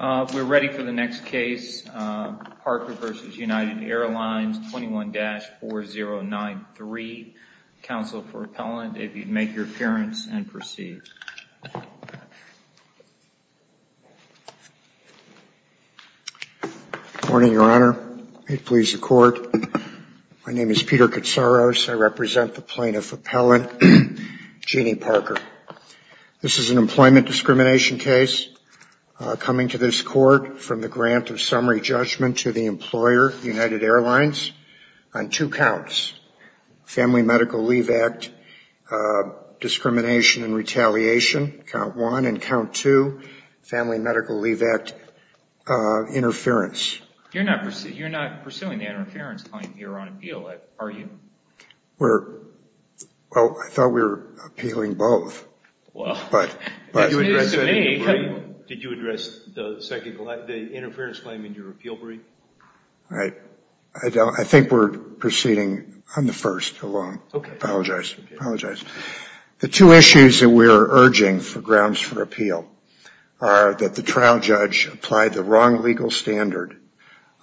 We're ready for the next case, Parker v. United Airlines, 21-4093. Counsel for appellant, if you'd make your appearance and proceed. Good morning, Your Honor. May it please the Court. My name is Peter Katsaros. I represent the plaintiff appellant, Jeannie Parker. This is an employment discrimination case coming to this Court from the grant of summary judgment to the employer, United Airlines, on two counts, Family Medical Leave Act discrimination and retaliation, count one, and count two, Family Medical Leave Act interference. You're not pursuing the interference claim here on appeal, are you? Well, I thought we were appealing both. Did you address the interference claim in your appeal brief? I think we're proceeding on the first alone. Okay. I apologize. The two issues that we're urging for grounds for appeal are that the trial judge applied the wrong legal standard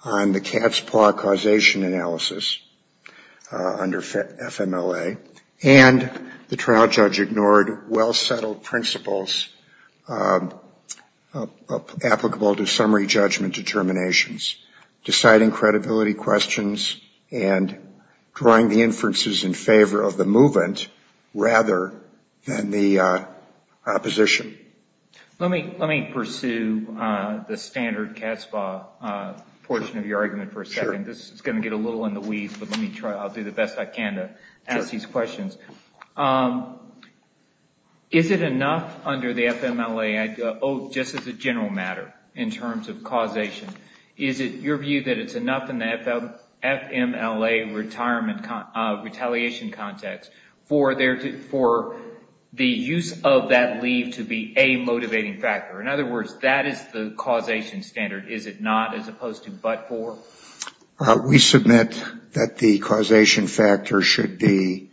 on the cat's paw causation analysis under FMLA, and the trial judge ignored well-settled principles applicable to summary judgment determinations, deciding credibility questions and drawing the inferences in favor of the movement rather than the opposition. Let me pursue the standard cat's paw portion of your argument for a second. This is going to get a little in the weeds, but I'll do the best I can to ask these questions. Is it enough under the FMLA, just as a general matter in terms of causation, is it your view that it's enough in the FMLA retaliation context for the use of that leave to be a motivating factor? In other words, that is the causation standard, is it not, as opposed to but for? We submit that the causation factor should be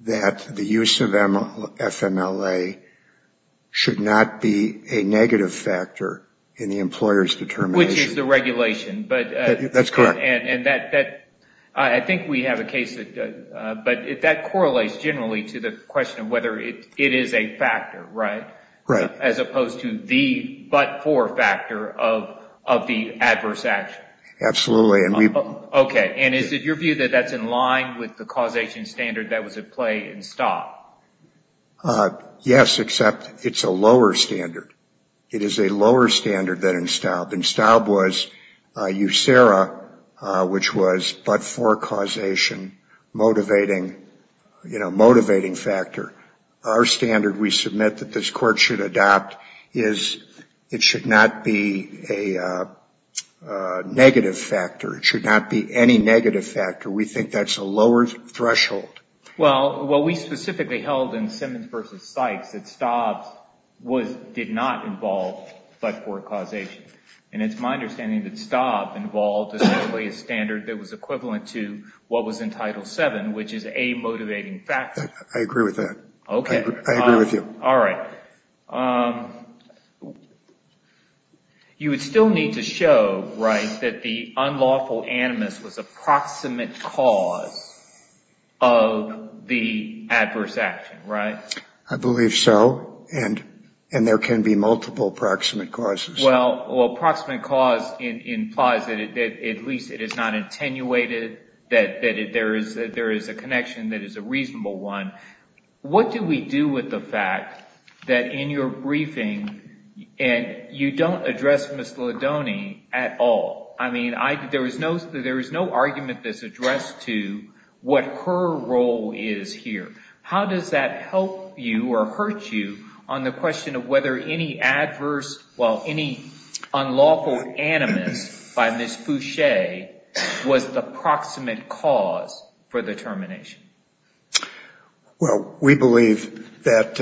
that the use of FMLA should not be a negative factor in the employer's determination. Which is the regulation. That's correct. I think we have a case, but that correlates generally to the question of whether it is a factor, right? Right. As opposed to the but for factor of the adverse action. Absolutely. Okay. And is it your view that that's in line with the causation standard that was at play in STOB? Yes, except it's a lower standard. It is a lower standard than in STOB. In STOB was USERA, which was but for causation, motivating, you know, motivating factor. Our standard we submit that this court should adopt is it should not be a negative factor. It should not be any negative factor. We think that's a lower threshold. Well, we specifically held in Simmons v. Sykes that STOB did not involve but for causation. And it's my understanding that STOB involved essentially a standard that was equivalent to what was in Title VII, which is a motivating factor. I agree with that. Okay. I agree with you. All right. You would still need to show, right, that the unlawful animus was a proximate cause of the adverse action, right? I believe so. And there can be multiple proximate causes. Well, proximate cause implies that at least it is not attenuated, that there is a connection that is a reasonable one. What do we do with the fact that in your briefing you don't address Ms. Ladone at all? I mean, there is no argument that's addressed to what her role is here. How does that help you or hurt you on the question of whether any adverse, well, any unlawful animus by Ms. Fouché was the proximate cause for the termination? Well, we believe that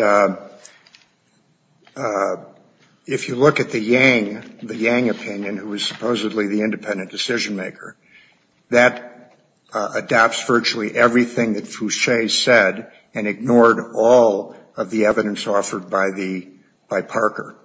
if you look at the Yang opinion, who is supposedly the independent decision maker, that adopts virtually everything that Fouché said and ignored all of the evidence offered by Parker.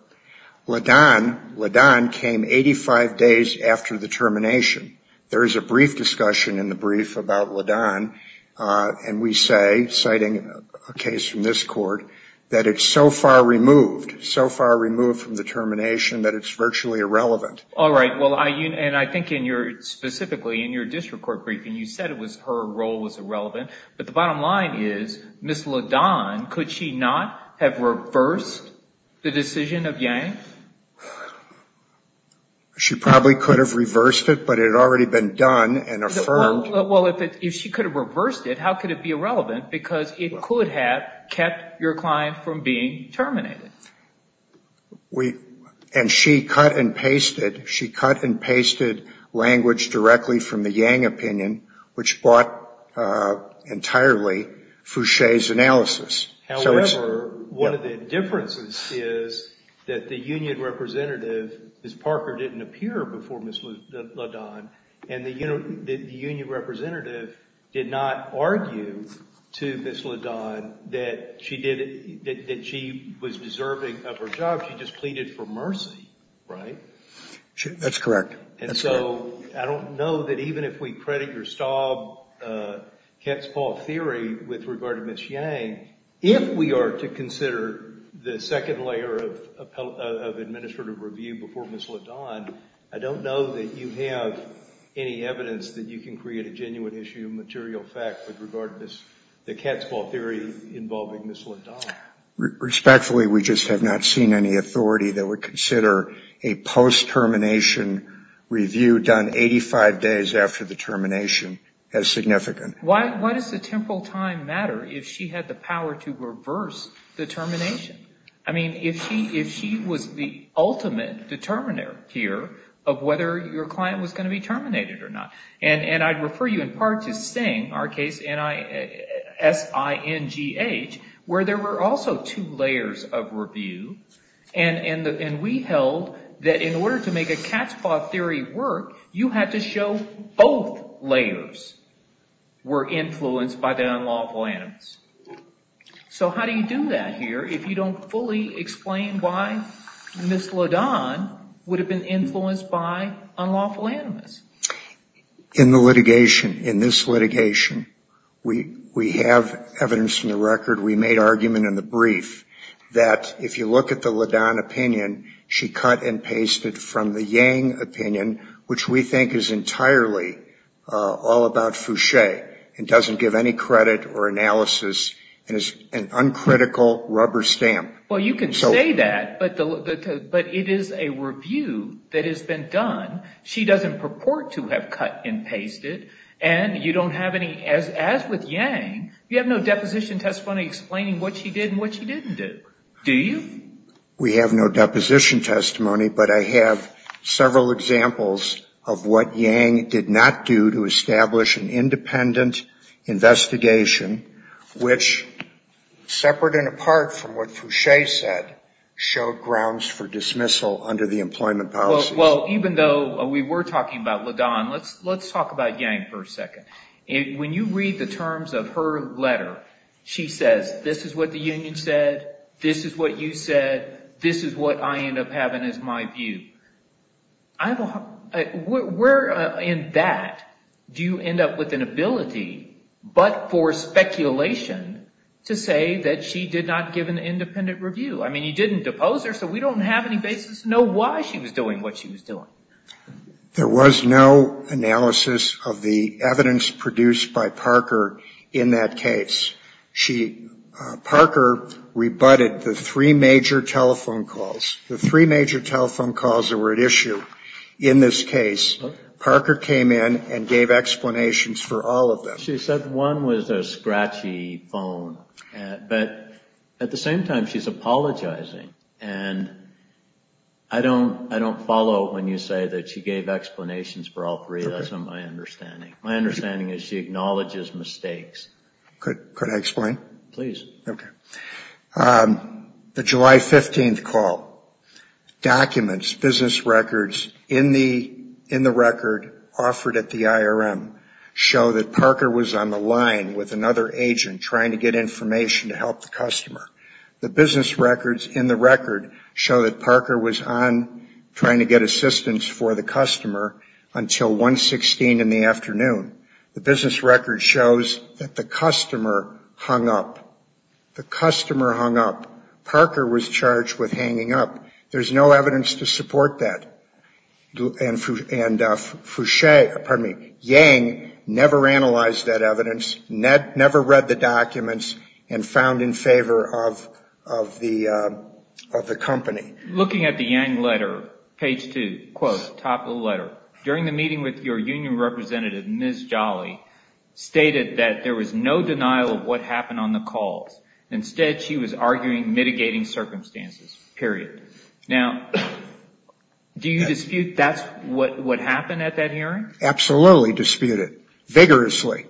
Ladone came 85 days after the termination. There is a brief discussion in the brief about Ladone, and we say, citing a case from this court, that it's so far removed, so far removed from the termination that it's virtually irrelevant. All right, well, and I think in your, specifically in your district court briefing, you said her role was irrelevant, but the bottom line is, Ms. Ladone, could she not have reversed the decision of Yang? She probably could have reversed it, but it had already been done and affirmed. Well, if she could have reversed it, how could it be irrelevant? Because it could have kept your client from being terminated. And she cut and pasted, she cut and pasted language directly from the Yang opinion, which bought entirely Fouché's analysis. However, one of the differences is that the union representative, Ms. Parker, didn't appear before Ms. Ladone, and the union representative did not argue to Ms. Ladone that she was deserving of her job. She just pleaded for mercy, right? That's correct. That's correct. And so I don't know that even if we credit your Staub-Ketzball theory with regard to Ms. Yang, if we are to consider the second layer of administrative review before Ms. Ladone, I don't know that you have any evidence that you can create a genuine issue of material fact with regard to the Ketzball theory involving Ms. Ladone. Respectfully, we just have not seen any authority that would consider a post-termination review done 85 days after the termination as significant. Why does the temporal time matter if she had the power to reverse the termination? I mean, if she was the ultimate determiner here of whether your client was going to be terminated or not. And I'd refer you in part to Singh, our case, S-I-N-G-H, where there were also two layers of review, and we held that in order to make a Ketzball theory work, you had to show both layers. Both layers were influenced by the unlawful animus. So how do you do that here if you don't fully explain why Ms. Ladone would have been influenced by unlawful animus? In the litigation, in this litigation, we have evidence in the record. We made argument in the brief that if you look at the Ladone opinion, she cut and pasted from the Yang opinion, which we think is entirely all about fouché and doesn't give any credit or analysis and is an uncritical rubber stamp. Well, you can say that, but it is a review that has been done. She doesn't purport to have cut and pasted, and you don't have any, as with Yang, you have no deposition testimony explaining what she did and what she didn't do, do you? We have no deposition testimony, but I have several examples of what Yang did not do to establish an independent investigation, which, separate and apart from what fouché said, showed grounds for dismissal under the employment policy. Well, even though we were talking about Ladone, let's talk about Yang for a second. When you read the terms of her letter, she says, this is what the union said, this is what you said, this is what I end up having as my view. Where in that do you end up with an ability, but for speculation, to say that she did not give an independent review? I mean, you didn't depose her, so we don't have any basis to know why she was doing what she was doing. There was no analysis of the evidence produced by Parker in that case. She, Parker rebutted the three major telephone calls. The three major telephone calls that were at issue in this case, Parker came in and gave explanations for all of them. She said one was a scratchy phone, but at the same time, she's apologizing, and I don't follow when you say that. She gave explanations for all three. That's not my understanding. My understanding is she acknowledges mistakes. Could I explain? Please. The July 15th call, documents, business records in the record offered at the IRM show that Parker was on the line with another agent trying to get information to help the customer. The business records in the record show that Parker was on trying to get assistance for the customer until 116 in the afternoon. The business record shows that the customer hung up. The customer hung up. Parker was charged with hanging up. There's no evidence to support that. Yang never analyzed that evidence, never read the documents, and found in favor of the company. Looking at the Yang letter, page two, quote, top of the letter, during the meeting with your union representative, Ms. Jolly, stated that there was no denial of what happened on the calls. Instead, she was arguing mitigating circumstances, period. Now, do you dispute that's what happened at that hearing? Absolutely disputed. Vigorously.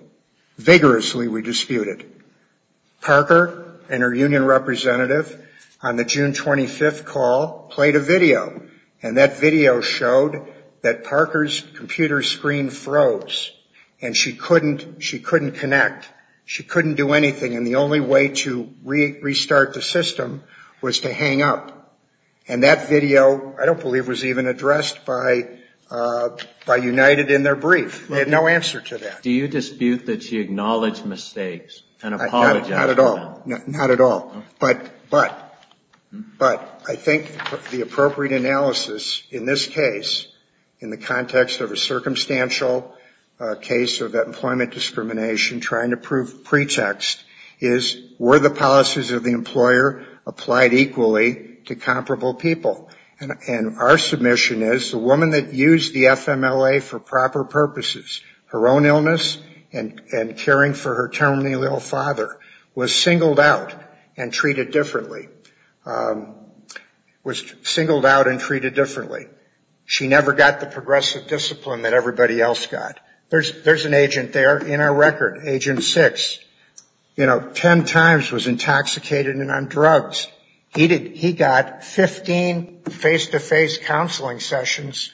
Vigorously we disputed. Parker and her union representative on the June 25th call played a video, and that video showed that Parker's computer screen froze, and she couldn't connect. She couldn't do anything, and the only way to restart the system was to hang up. And that video, I don't believe, was even addressed by United in their brief. They had no answer to that. Do you dispute that she acknowledged mistakes and apologized? Not at all. Not at all. But I think the appropriate analysis in this case, in the context of a circumstantial case of employment discrimination, trying to prove pretext, is were the policies of the employer applied equally to comparable people? And our submission is the woman that used the FMLA for proper purposes, her own illness, and caring for her terminally ill father, was singled out, and can't be sued. Treated differently. Was singled out and treated differently. She never got the progressive discipline that everybody else got. There's an agent there in our record, Agent 6. You know, 10 times was intoxicated and on drugs. He got 15 face-to-face counseling sessions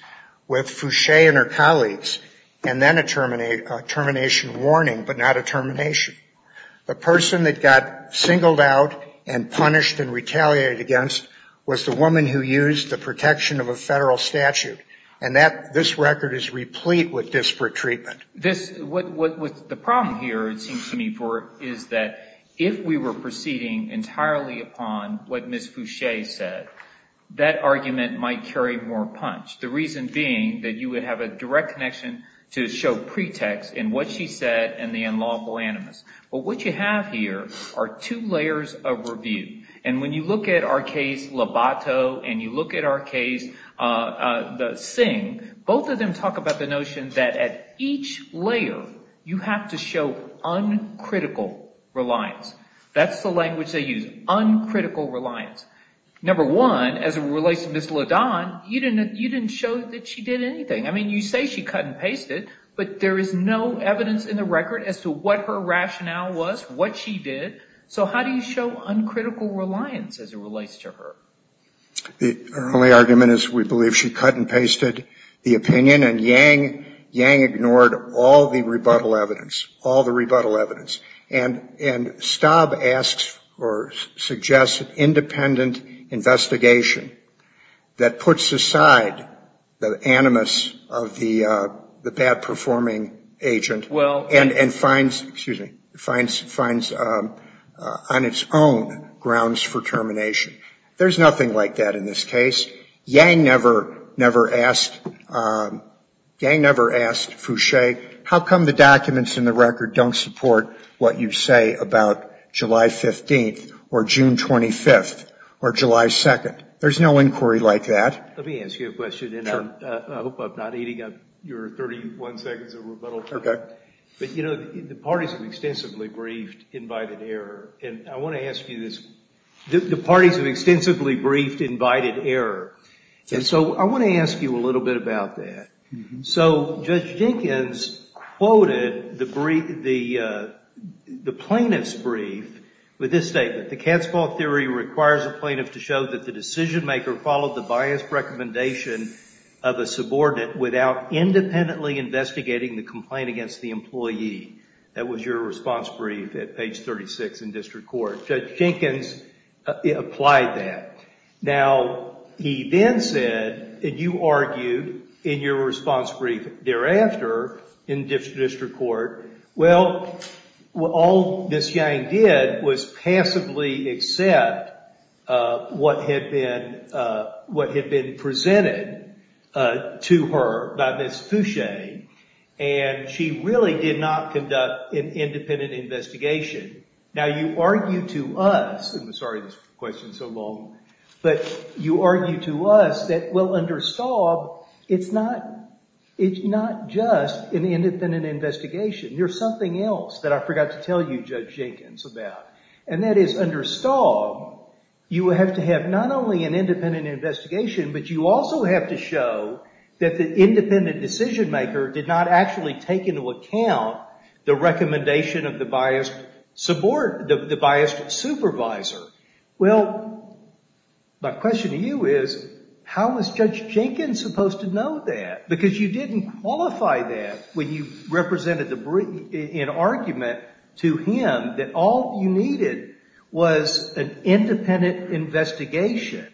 with Foucher and her colleagues, and then a termination warning, but not a termination. The person that got singled out and punished and retaliated against was the woman who used the protection of a federal statute. And this record is replete with disparate treatment. The problem here, it seems to me, is that if we were proceeding entirely upon what Ms. Foucher said, that argument might carry more punch. The reason being that you would have a direct connection to show pretext in what she said and the unlawful animus. But what you have here are two layers of review. And when you look at our case, Lobato, and you look at our case, the Singh, both of them talk about the notion that at each layer, you have to show uncritical reliance. That's the language they use, uncritical reliance. Number one, as it relates to Ms. Ladan, you didn't show that she did anything. I mean, you say she cut and pasted, but there is no evidence in the record as to what her rationale was, what she did. So how do you show uncritical reliance as it relates to her? Our only argument is we believe she cut and pasted the opinion, and Yang ignored all the rebuttal evidence, all the rebuttal evidence. And Staub asks or suggests an independent investigation that puts aside the animus, the unlawful animus. The bad performing agent, and finds, excuse me, finds on its own grounds for termination. There's nothing like that in this case. Yang never asked Foucher, how come the documents in the record don't support what you say about July 15th or June 25th or July 2nd? There's no inquiry like that. Let me ask you a question, and I hope I'm not eating up your 31 seconds of rebuttal time. But you know, the parties have extensively briefed invited error, and I want to ask you this. The parties have extensively briefed invited error, and so I want to ask you a little bit about that. So Judge Jenkins quoted the plaintiff's brief with this statement, the Catspaw theory requires a plaintiff to show that the decision maker followed the biased recommendation of a subordinate without independently investigating the complaint against the employee. That was your response brief at page 36 in district court. Judge Jenkins applied that. Now, he then said, and you argued in your response brief thereafter in district court, well, all Ms. Yang did was passively accept what had been presented to her by Ms. Foucher, and she really did not conduct an independent investigation. Now, you argue to us, I'm sorry this question's so long, but you argue to us that, well, under Staub, it's not just an independent investigation. There's something else that I forgot to tell you, Judge Jenkins, about, and that is under Staub, you have to have not only an independent investigation, but you also have to show that the independent decision maker did not actually take into account the recommendation of the biased supervisor. Well, my question to you is, how was Judge Jenkins supposed to know that? Because you didn't qualify that when you represented an argument to him that all you needed was an independent investigation.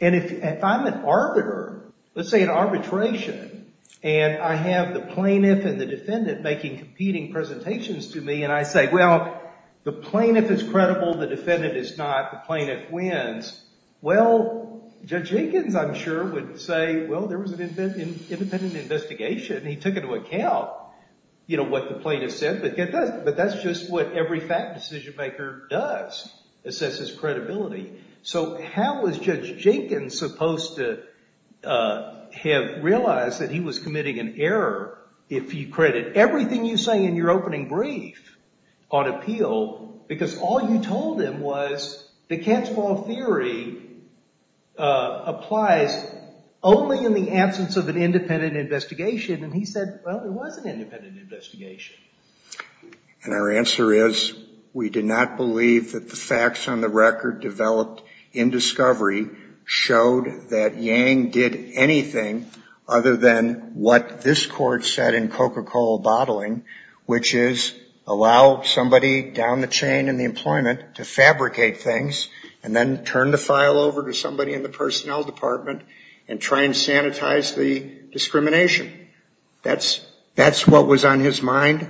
And if I'm an arbiter, let's say an arbitration, and I have the plaintiff and the defendant making competing presentations to me, and I say, well, the plaintiff is credible, the defendant is not, the plaintiff wins, well, Judge Jenkins, I'm sure, would say, well, there was an independent investigation, and he took into account what the plaintiff said, but that's just what every fact decision maker does, assesses credibility. So how was Judge Jenkins supposed to have realized that he was committing an error if he credited everything you say in your opening brief on appeal, because all you told him was the catch-all theory applies only in the absence of an independent investigation, and he said, well, there was an independent investigation. And our answer is, we did not believe that the facts on the record developed in discovery showed that Yang did anything other than what this court said in Coca-Cola bottling, which is allow somebody down the chain in the employment to fabricate things, and then turn the file over to somebody in the personnel department and try and sanitize the discrimination. That's what was on his mind.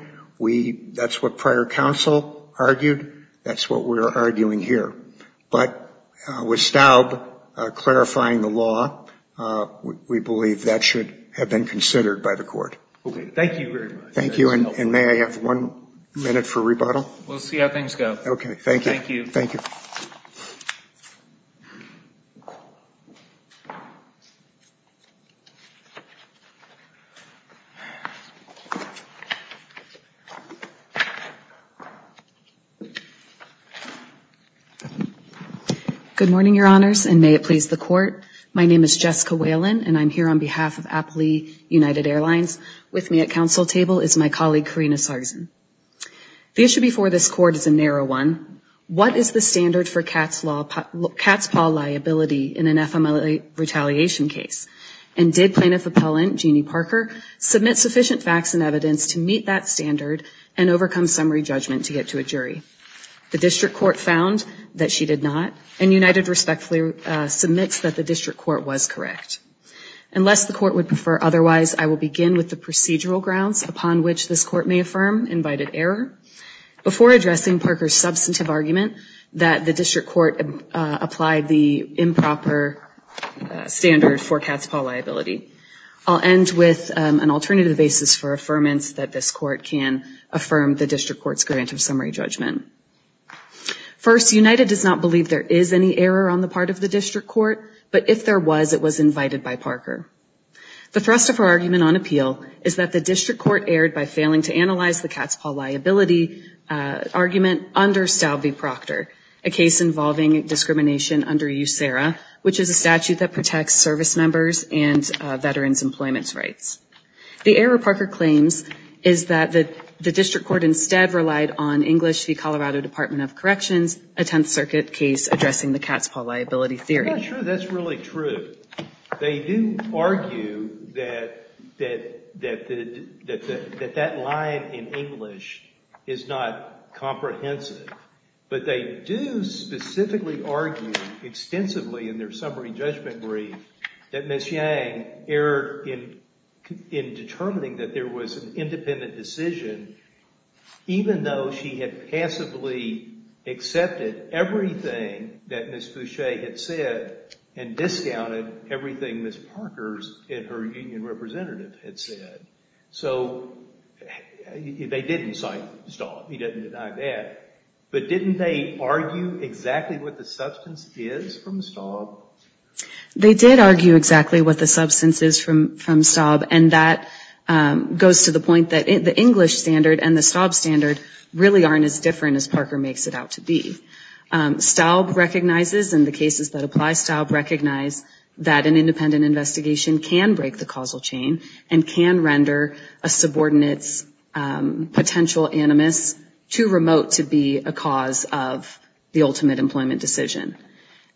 That's what prior counsel argued. That's what we're arguing here. But with Staub clarifying the law, we believe that should have been considered by the court. Thank you very much. Thank you, and may I have one minute for rebuttal? We'll see how things go. Okay. Thank you. Thank you. Good morning, Your Honors, and may it please the court. My name is Jessica Whalen, and I'm here on behalf of Appley United Airlines. With me at counsel table is my colleague, Karina Sarsen. The issue before this court is a narrow one. What is the standard for cat's paw liability in an FMLA retaliation case, and did plaintiff appellant Jeannie Parker submit sufficient facts and evidence to meet that standard and overcome summary judgment to get to a jury? The district court found that she did not, and United respectfully submits that the district court was correct. Unless the court would prefer otherwise, I will begin with the procedural grounds upon which this court may affirm invited error. Before addressing Parker's substantive argument that the district court applied the improper standard for cat's paw liability, I'll end with an alternative basis for affirmance that this court can affirm the district court's grant of summary judgment. First, United does not believe there is any error on the part of the district court, but if there was, it was invited by Parker. The thrust of her argument on appeal is that the district court erred by failing to analyze the cat's paw liability argument under Stalvey-Proctor, a case involving discrimination under USERRA, which is a statute that protects service members and veterans' employment rights. The error Parker claims is that the district court instead relied on English v. Colorado Department of Corrections, a Tenth Circuit case addressing the cat's paw liability theory. That's not true. That's really true. They do argue that that line in English is not comprehensive, but they do specifically argue extensively in their summary judgment brief that Ms. Yang erred in determining that there was an independent decision even though she had passively accepted everything that Ms. Foucher had said and discounted everything Ms. Parker's and her union representative had said. So they didn't cite Staub. He didn't deny that. But didn't they argue exactly what the substance is from Staub? They did argue exactly what the substance is from Staub, and that goes to the point that the English standard and the Staub standard really aren't as different as Parker makes it out to be. Staub recognizes, in the cases that apply, Staub recognizes that an independent investigation can break the causal chain and can render a subordinate's potential animus too remote to be a cause of the ultimate employment decision.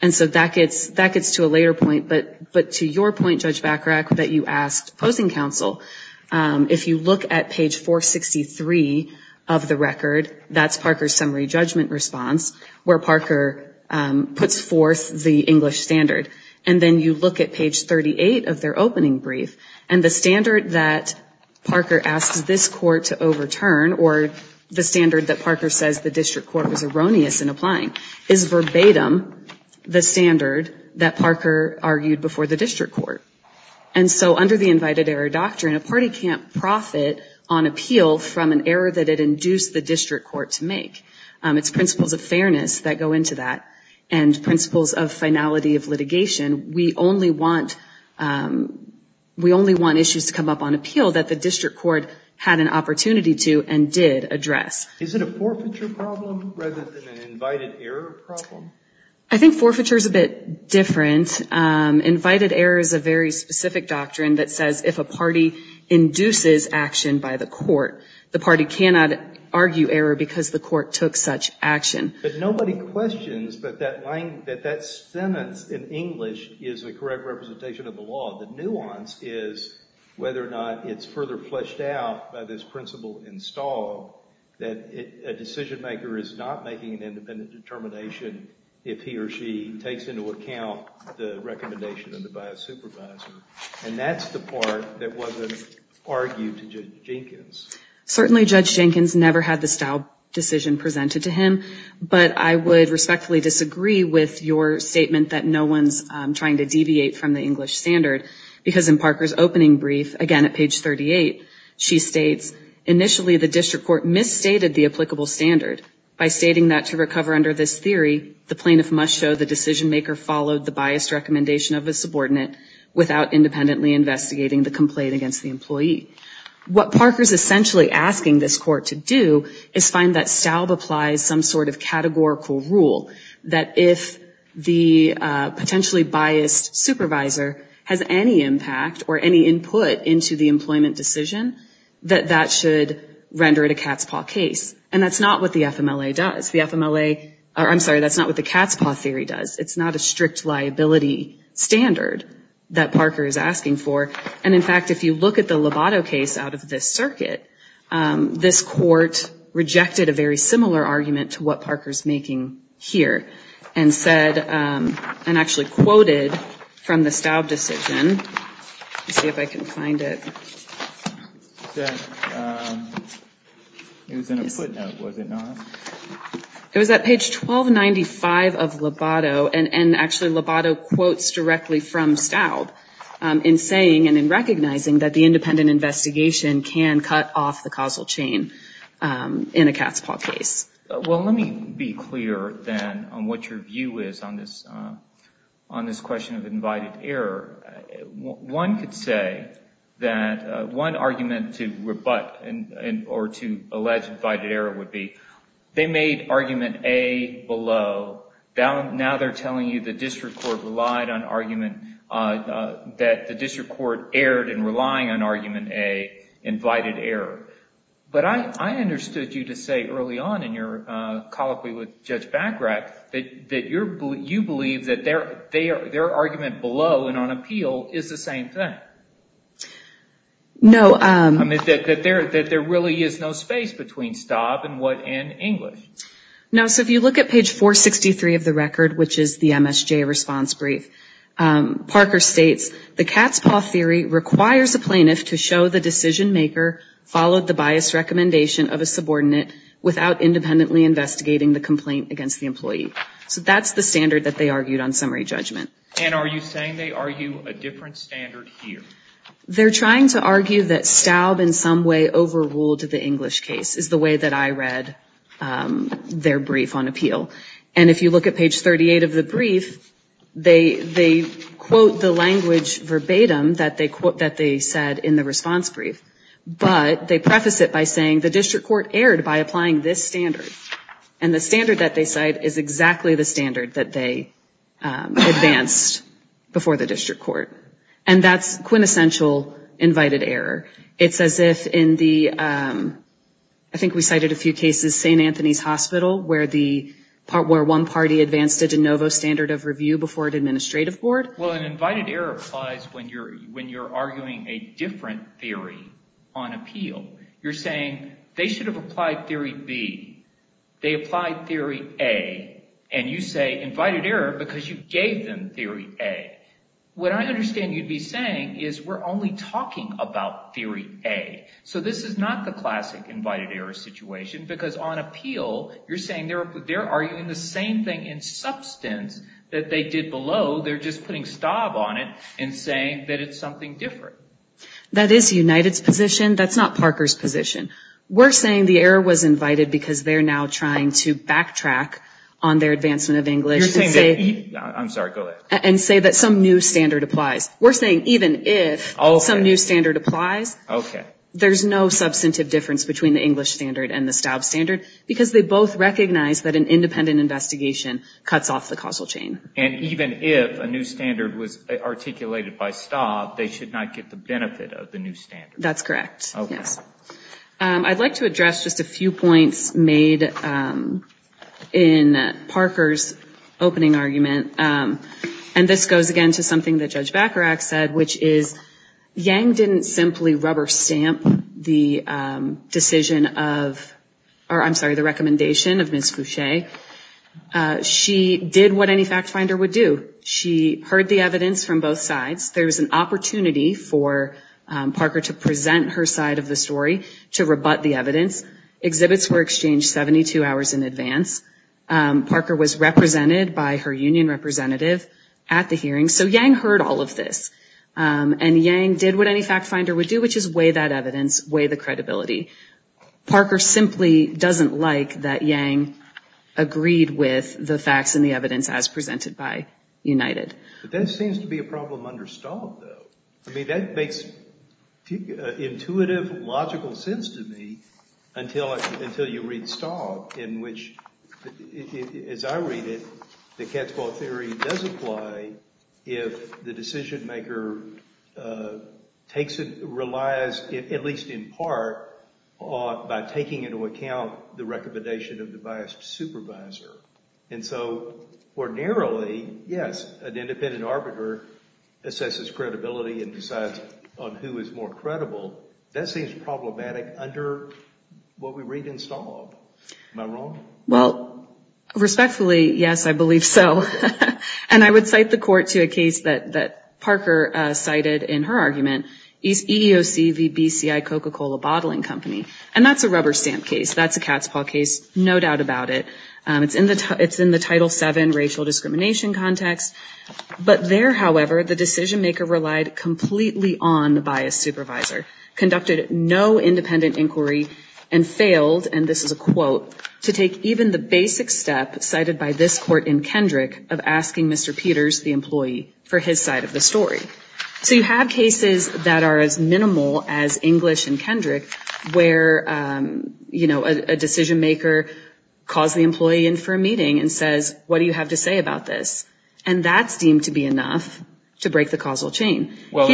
And so that gets to a later point. But to your point, Judge Bachrach, that you asked opposing counsel, if you look at page 463 of the record, that's Parker's summary judgment response, where Parker puts forth the English standard. And then you look at page 38 of their opening brief, and the standard that Parker asks this court to overturn, or the standard that Parker says the district court was erroneous in applying, is verbatim the standard that Parker argued before the district court. And so under the invited error doctrine, a party can't profit on appeal from an error that it induced the district court to make. It's principles of fairness that go into that, and principles of finality of litigation. We only want issues to come up on appeal that the district court had an opportunity to and did address. Is it a forfeiture problem rather than an invited error problem? I think forfeiture is a bit different. Invited error is a very specific doctrine that says if a party induces action by the court, the party cannot argue error because the court took such action. But nobody questions that that sentence in English is the correct representation of the law. The nuance is whether or not it's further fleshed out by this principle in Stahl that a decision maker is not making an independent determination if he or she takes into account the recommendation of the bias supervisor. And that's the part that wasn't argued to Judge Jenkins. Certainly Judge Jenkins never had the Stahl decision presented to him, but I would respectfully disagree with your statement that no one's trying to deviate from the English standard because in Parker's opening brief, again at page 38, she states, initially the district court misstated the applicable standard by stating that to recover under this theory, the plaintiff must show the decision maker followed the biased recommendation of a subordinate without independently investigating the complaint against the employee. What Parker's essentially asking this court to do is find that Stahl applies some sort of categorical rule that if the potentially biased supervisor has any impact or any input into the employment decision, that that should render it a cat's paw case. And that's not what the FMLA does. The FMLA, or I'm sorry, that's not what the cat's paw theory does. It's not a strict liability standard that Parker is asking for. And in fact, if you look at the Lobato case out of this circuit, this court rejected a very similar argument to what Parker's making here and said, and actually quoted from the Staub decision. Let's see if I can find it. It was in a footnote, was it not? It was at page 1295 of Lobato, and actually Lobato quotes directly from Staub in saying and in recognizing that the independent investigation can cut off the causal chain in a cat's paw case. Well, let me be clear then on what your view is on this question of invited error. One could say that one argument to rebut or to allege invited error would be they made argument A below. Now they're telling you the district court relied on argument, that the district court erred in relying on argument A, invited error. But I understood you to say early on in your colloquy with Judge Bagrat, that you believe that their argument below and on appeal is the same thing. No. I mean, that there really is no space between Staub and English. No. So if you look at page 463 of the record, which is the MSJ response brief, Parker states, So that's the standard that they argued on summary judgment. And are you saying they argue a different standard here? They're trying to argue that Staub in some way overruled the English case, is the way that I read their brief on appeal. And if you look at page 38 of the brief, they quote the language of the English case. that they said in the response brief. But they preface it by saying the district court erred by applying this standard. And the standard that they cite is exactly the standard that they advanced before the district court. And that's quintessential invited error. It's as if in the, I think we cited a few cases, St. Anthony's Hospital, where one party advanced a de novo standard of review before an administrative court. Well, an invited error applies when you're arguing a different theory on appeal. You're saying they should have applied theory B. They applied theory A. And you say invited error because you gave them theory A. What I understand you'd be saying is we're only talking about theory A. So this is not the classic invited error situation. Because on appeal, you're saying they're arguing the same thing in substance that they did below. They're just putting STOB on it and saying that it's something different. That is United's position. That's not Parker's position. We're saying the error was invited because they're now trying to backtrack on their advancement of English. You're saying that, I'm sorry, go ahead. And say that some new standard applies. We're saying even if some new standard applies, there's no substantive difference between the English standard and the STOB standard. Because they both recognize that an independent investigation cuts off the causal chain. And even if a new standard was articulated by STOB, they should not get the benefit of the new standard. That's correct. Yes. I'd like to address just a few points made in Parker's opening argument. And this goes, again, to something that Judge Bacharach said, which is Yang didn't simply rubber stamp the decision of, or I'm sorry, the recommendation of Ms. Foucher. She did what any fact finder would do. She heard the evidence from both sides. There was an opportunity for Parker to present her side of the story, to rebut the evidence. Exhibits were exchanged 72 hours in advance. Parker was represented by her union representative at the hearing. So Yang heard all of this. And Yang did what any fact finder would do, which is weigh that evidence, weigh the credibility. Parker simply doesn't like that Yang agreed with the facts and the evidence as presented by United. But that seems to be a problem under STOB, though. I mean, that makes intuitive, logical sense to me until you read STOB, in which, as I read it, the cat's claw theory does apply if the decision maker relies, at least in part, by taking into account the recommendation of the biased supervisor. And so ordinarily, yes, an independent arbiter assesses credibility and decides on who is more credible. That seems problematic under what we read in STOB. Am I wrong? Well, respectfully, yes, I believe so. And I would cite the court to a case that Parker cited in her argument, EEOC v. BCI Coca-Cola Bottling Company. And that's a rubber stamp case. That's a cat's claw case, no doubt about it. It's in the Title VII racial discrimination context. But there, however, the decision maker relied completely on the biased supervisor, conducted no independent inquiry, and failed, and this is a quote, to take even the basic step cited by this court in Kendrick of asking Mr. Peters, the employee, for his side of the story. So you have cases that are as minimal as English and Kendrick where, you know, a decision maker calls the employee in for a meeting and says, what do you have to say about this? And that's deemed to be enough to break the causal chain. Well,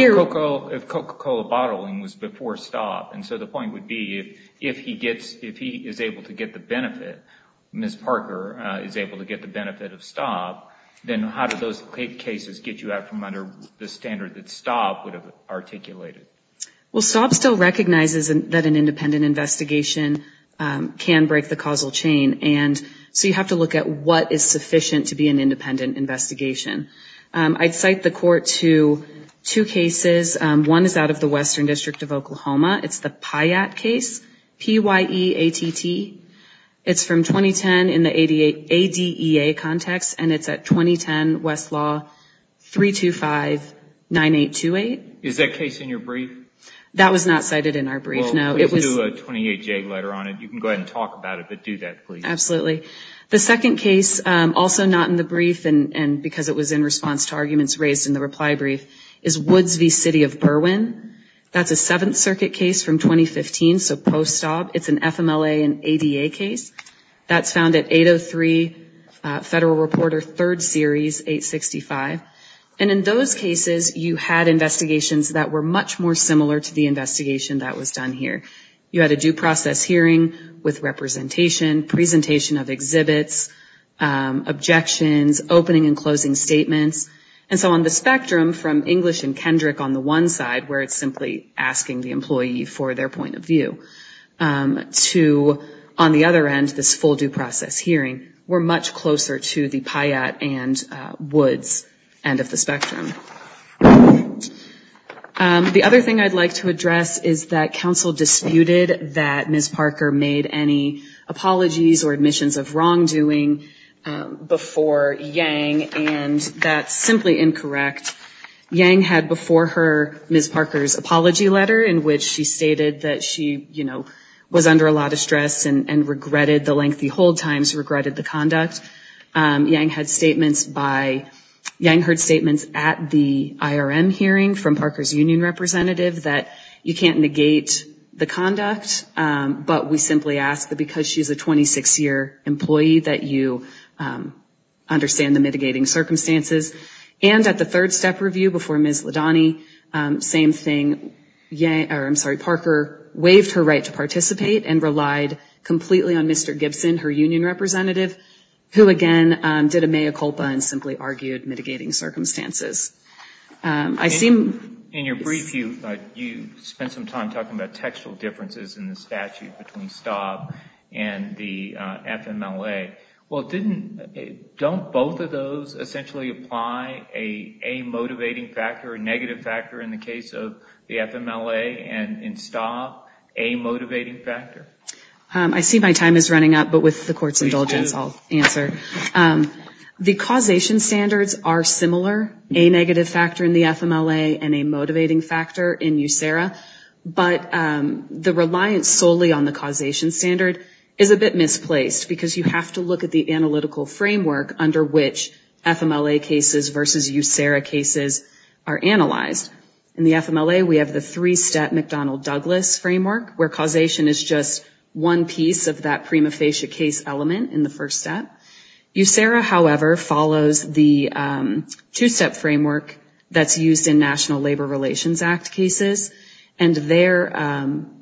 if Coca-Cola Bottling was before STOB, and so the point would be if he is able to get the benefit, Ms. Parker is able to get the benefit of STOB, then how do those cases get you out from under the standard that STOB would have articulated? Well, STOB still recognizes that an independent investigation can break the causal chain, and so you have to look at what is sufficient to be an independent investigation. I'd cite the court to two cases. One is out of the Western District of Oklahoma. It's the PYAT case, P-Y-E-A-T-T. It's from 2010 in the ADEA context, and it's at 2010 Westlaw 325-9828. Is that case in your brief? That was not cited in our brief, no. Well, we can do a 28-J letter on it. You can go ahead and talk about it, but do that, please. Absolutely. The second case, also not in the brief and because it was in response to arguments raised in the reply brief, is Woods v. City of Berwyn. That's a Seventh Circuit case from 2015, so post-STOB. It's an FMLA and ADEA case. That's found at 803 Federal Reporter 3rd Series 865, and in those cases you had investigations that were much more similar to the investigation that was done here. You had a due process hearing with representation, presentation of exhibits, objections, opening and closing statements, and so on the spectrum from English and Kendrick on the one side, where it's simply asking the employee for their point of view, to on the other end, this full due process hearing were much closer to the PYAT and Woods end of the spectrum. The other thing I'd like to address is that counsel disputed that Ms. Parker made any apologies or admissions of wrongdoing before Yang, and that's simply incorrect. Yang had before her Ms. Parker's apology letter in which she stated that she, you know, was under a lot of stress and regretted the lengthy hold times, regretted the conduct. Yang had statements by, Yang heard statements at the IRM hearing from Parker's union representative that you can't negate the conduct, but we simply ask that because she's a 26-year employee that you understand the mitigating circumstances. And at the third step review before Ms. Ladani, same thing. Parker waived her right to participate and relied completely on Mr. Gibson, her union representative, who again did a mea culpa and simply argued mitigating circumstances. In your brief, you spent some time talking about textual differences in the statute between STOB and the FMLA. Well, didn't, don't both of those essentially apply a motivating factor, a negative factor in the case of the FMLA and in STOB, a motivating factor? I see my time is running up, but with the court's indulgence I'll answer. The causation standards are similar, a negative factor in the FMLA and a motivating factor in USERA, but the reliance solely on the causation standard is a bit misplaced because you have to look at the analytical framework under which FMLA cases versus USERA cases are analyzed. In the FMLA, we have the three-step McDonnell-Douglas framework where causation is just one piece of that prima facie case element in the first step. USERA, however, follows the two-step framework that's used in National Labor Relations Act cases. And there,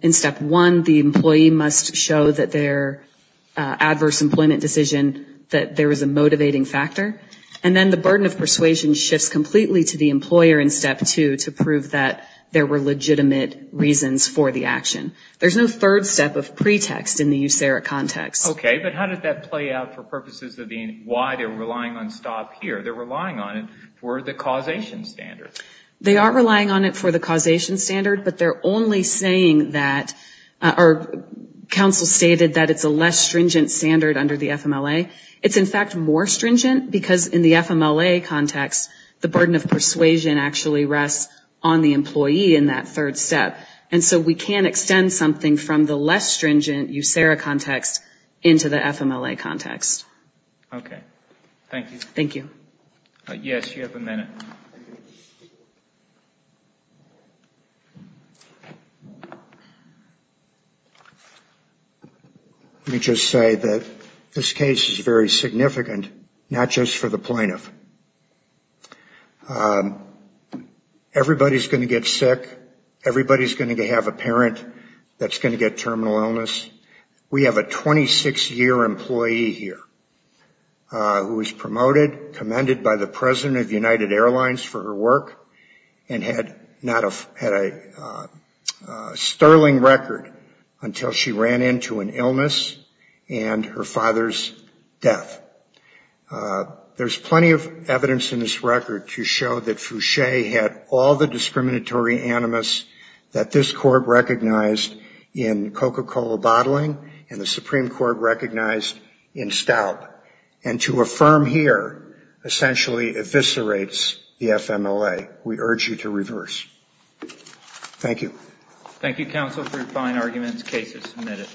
in step one, the employee must show that their adverse employment decision, that there is a motivating factor. And then the burden of persuasion shifts completely to the employer in step two to prove that there were legitimate reasons for the action. There's no third step of pretext in the USERA context. Okay, but how did that play out for purposes of being, why they're relying on STOB here? They're relying on it for the causation standard. They are relying on it for the causation standard, but they're only saying that, or counsel stated that it's a less stringent standard under the FMLA. It's in fact more stringent because in the FMLA context, the burden of persuasion actually rests on the employee in that third step. And so we can extend something from the less stringent USERA context into the FMLA context. Okay, thank you. Thank you. Yes, you have a minute. Thank you. Let me just say that this case is very significant, not just for the plaintiff. Everybody's going to get sick. Everybody's going to have a parent that's going to get terminal illness. We have a 26-year employee here who was promoted, commended by the President of United Airlines for her work, and had a sterling record until she ran into an illness and her father's death. There's plenty of evidence in this record to show that Foucher had all the discriminatory animus that this Court recognized in Coca-Cola bottling and the Supreme Court recognized in stout. And to affirm here essentially eviscerates the FMLA. We urge you to reverse. Thank you. Thank you, counsel, for your fine arguments. Case is submitted.